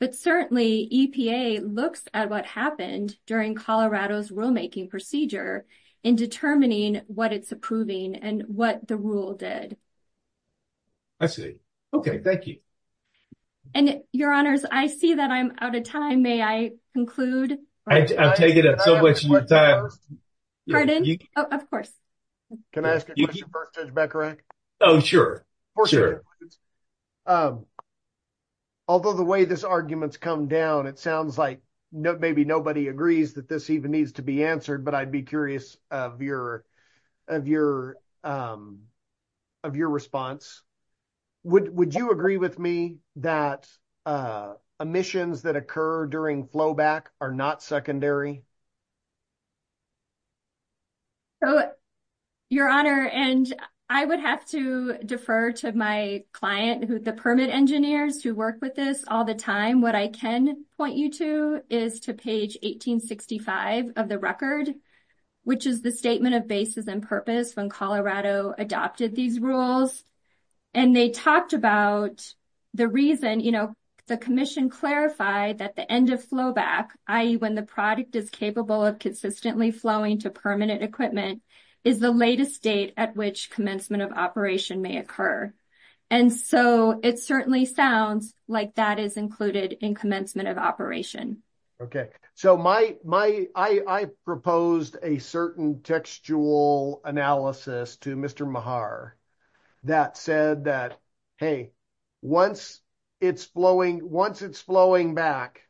But certainly EPA looks at what happened during Colorado's rulemaking procedure in determining what it's approving and what the rule did. I see. Okay. Thank you. And Your Honors, I see that I'm out of time. May I conclude? I've taken up so much of your time. Pardon? Of course. Can I ask a question first, Judge Beckerach? Oh, sure. Although the way this argument's come down, it sounds like maybe nobody agrees that this even needs to be answered, but I'd be curious of your response. Would you agree with me that omissions that occur during flowback are not secondary? So, Your Honor, and I would have to defer to my client, the permit engineers who work with this all the time. What I can point you to is to page 1865 of the record, which is the statement of basis and purpose when Colorado adopted these rules. And they talked about the reason, you know, commission clarified that the end of flowback, i.e. when the product is capable of consistently flowing to permanent equipment, is the latest date at which commencement of operation may occur. And so, it certainly sounds like that is included in commencement of operation. Okay. So, I proposed a certain textual analysis to Mr. Mehar that said that, hey, once it's flowing back,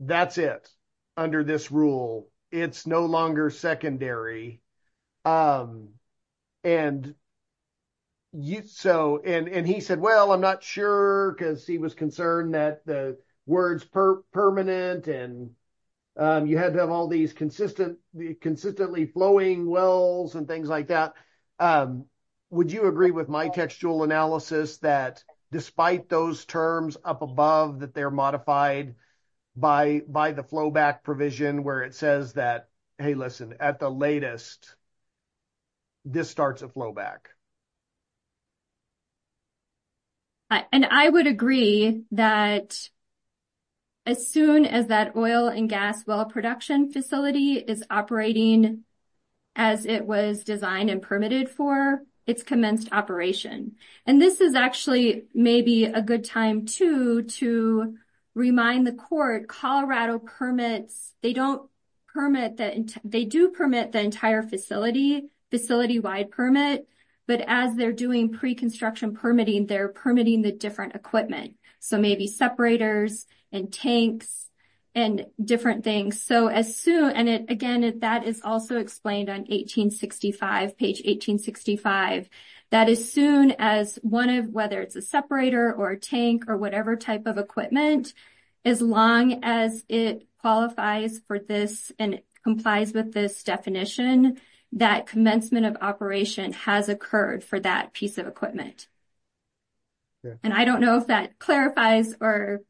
that's it under this rule. It's no longer secondary. And he said, well, I'm not sure because he was concerned that the word's permanent and you had to have all these consistently flowing wells and things like that. Would you agree with my textual analysis that despite those terms up above that they're modified by the flowback provision where it says that, hey, listen, at the latest, this starts a flowback? And I would agree that as soon as that oil and gas well production facility is operating as it was designed and permitted for, it's commenced operation. And this is actually maybe a good time too to remind the court Colorado permits, they do permit the entire facility, facility-wide permit. But as they're doing pre-construction permitting, they're permitting the different equipment. So, maybe separators and tanks and different things. So, as soon, and again, that is also explained on 1865, page 1865, that as soon as one of, whether it's a separator or a tank or whatever type of equipment, as long as it qualifies for this and complies with this definition, that commencement of operation has occurred for that piece of equipment. And I don't know if that clarifies or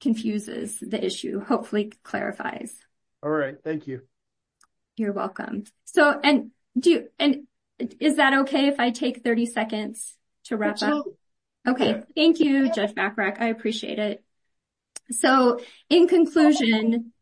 confuses the issue, hopefully clarifies. All right. Thank you. You're welcome. So, and do you, and is that okay if I take 30 seconds to wrap up? Okay. Thank you, Judge Bachrach. I appreciate it. So, in conclusion,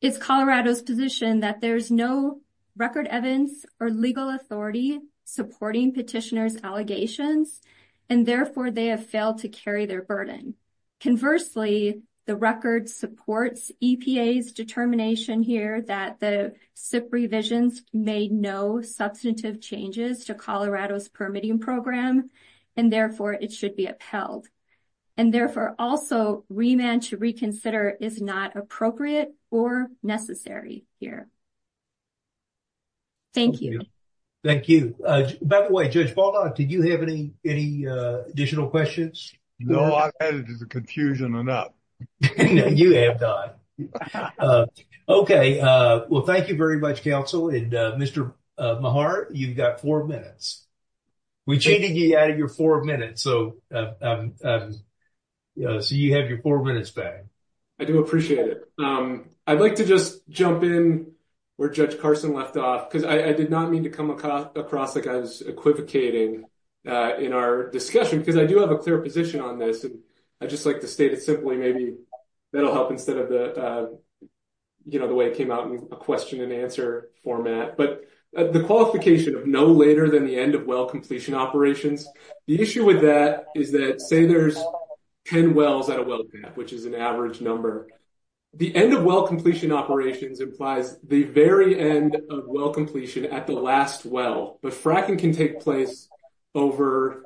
it's Colorado's position that there's no record evidence or legal authority supporting petitioners' allegations, and therefore they have failed to carry their burden. Conversely, the record supports EPA's determination here that the SIP revisions made no substantive changes to Colorado's permitting program, and therefore it should be upheld. And therefore, also, remand to reconsider is not appropriate or necessary here. Thank you. Thank you. By the way, Judge Ballard, did you have any additional questions? No, I've had it as a confusion enough. You have not. Okay. Well, thank you very much, counsel. And Mr. Mahart, you've got four minutes. We cheated you out of your four minutes, so you have your four minutes back. I do appreciate it. I'd like to just jump in where Judge Carson left off, because I did not mean to come across like I was equivocating in our discussion, because I do have a clear position on this. And I'd just like to state it simply, maybe that'll help instead of the way it came out in a question and answer format. But the qualification of no later than the end of well completion operations, the issue with that is that, say there's 10 wells at a well gap, which is an average number, the end of well completion operations implies the very end of well completion at the last well. But fracking can take place over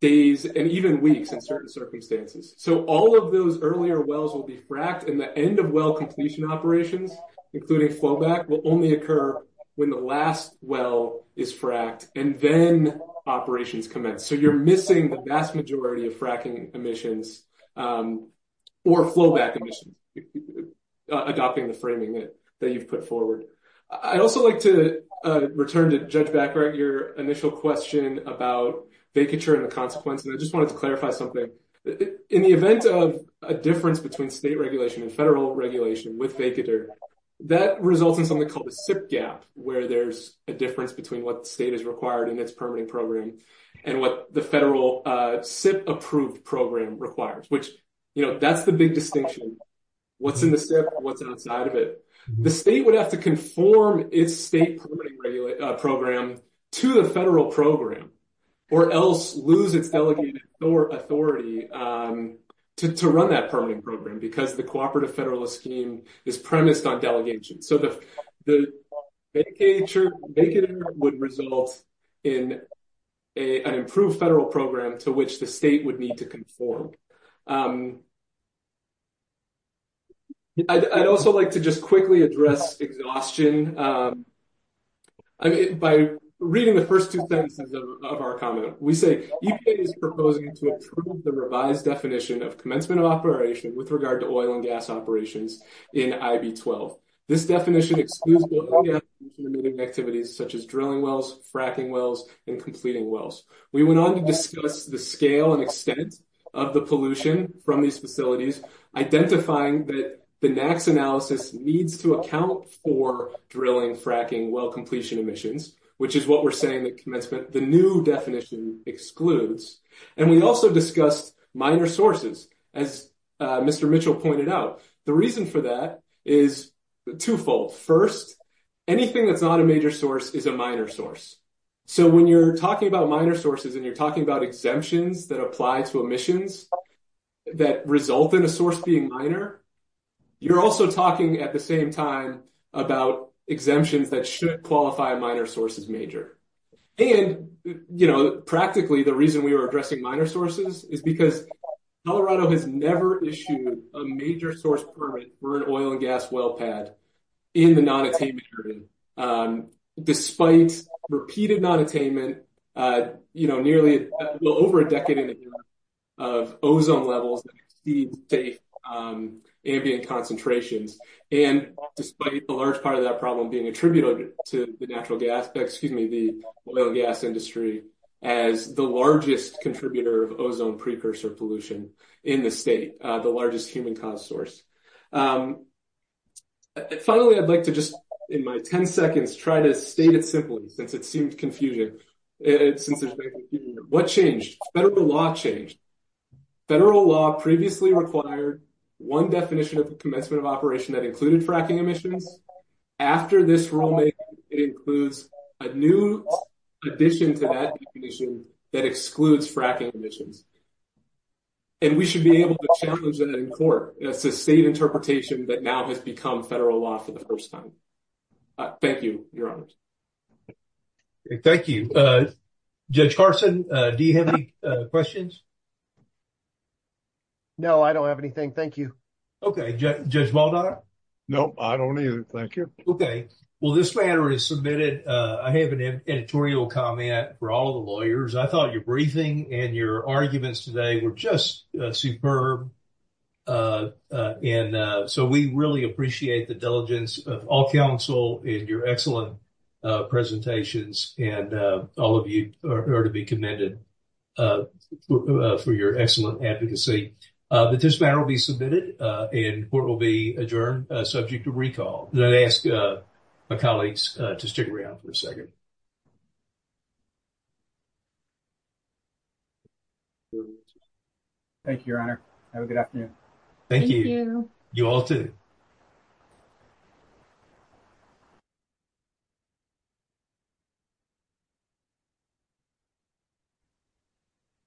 days and even weeks in certain circumstances. So all of those earlier wells will be fracked, and the end of well completion operations, including flowback, will only occur when the last well is fracked and then operations commence. So you're missing the vast majority of fracking emissions or flowback emissions, adopting the that you've put forward. I'd also like to return to Judge Backhart, your initial question about vacature and the consequences. I just wanted to clarify something. In the event of a difference between state regulation and federal regulation with vacature, that results in something called a SIP gap, where there's a difference between what state is required in its permitting program and what the federal SIP approved program requires, which, you know, that's the big distinction. What's in the SIP and what's outside of it? The state would have to conform its state program to the federal program or else lose its delegated authority to run that permanent program because the cooperative federalist scheme is premised on delegation. So the vacature would result in an improved federal program to which the state would need to conform. I'd also like to just quickly address exhaustion by reading the first two sentences of our comment. We say EPA is proposing to approve the revised definition of commencement operation with regard to oil and gas operations in IB-12. This definition excludes activities such as drilling wells, fracking wells, and completing wells. We went on to discuss the scale and extent of the pollution from these facilities, identifying that the NAAQS analysis needs to account for drilling, fracking, well completion emissions, which is what we're saying that commencement, the new definition excludes. And we also discussed minor sources. As Mr. Mitchell pointed out, the reason for that is twofold. First, anything that's not a major source is a minor source. So when you're talking about minor sources and you're talking about exemptions that apply to emissions that result in a source being minor, you're also talking at the same time about exemptions that should qualify minor sources major. And, you know, practically the reason we were addressing minor sources is because Colorado has never issued a major source permit for an oil and gas well pad in the non-attainment period. Despite repeated non-attainment, you know, nearly well over a decade of ozone levels exceed safe ambient concentrations. And despite a large part of that problem being attributed to the natural gas, excuse me, the oil gas industry as the largest contributor of ozone precursor pollution in the state, the largest human-caused source. Finally, I'd like to just in my 10 seconds try to state it since it seemed confusing. What changed? Federal law changed. Federal law previously required one definition of the commencement of operation that included fracking emissions. After this rulemaking, it includes a new addition to that definition that excludes fracking emissions. And we should be able to challenge that in court. It's a state interpretation that now has become federal law for the first time. Thank you, Your Honors. Thank you. Judge Carson, do you have any questions? No, I don't have anything. Thank you. Okay. Judge Baldock? No, I don't either. Thank you. Okay. Well, this matter is submitted. I have an editorial comment for all the lawyers. I thought your briefing and your arguments today were just superb. And so we really appreciate the diligence of all counsel in your excellent presentations. And all of you are to be commended for your excellent advocacy. But this matter will be submitted and court will be adjourned, subject to recall. And I'd ask my colleagues to stick around for a second. Thank you, Your Honor. Have a good afternoon. Thank you. You all too. Thank you.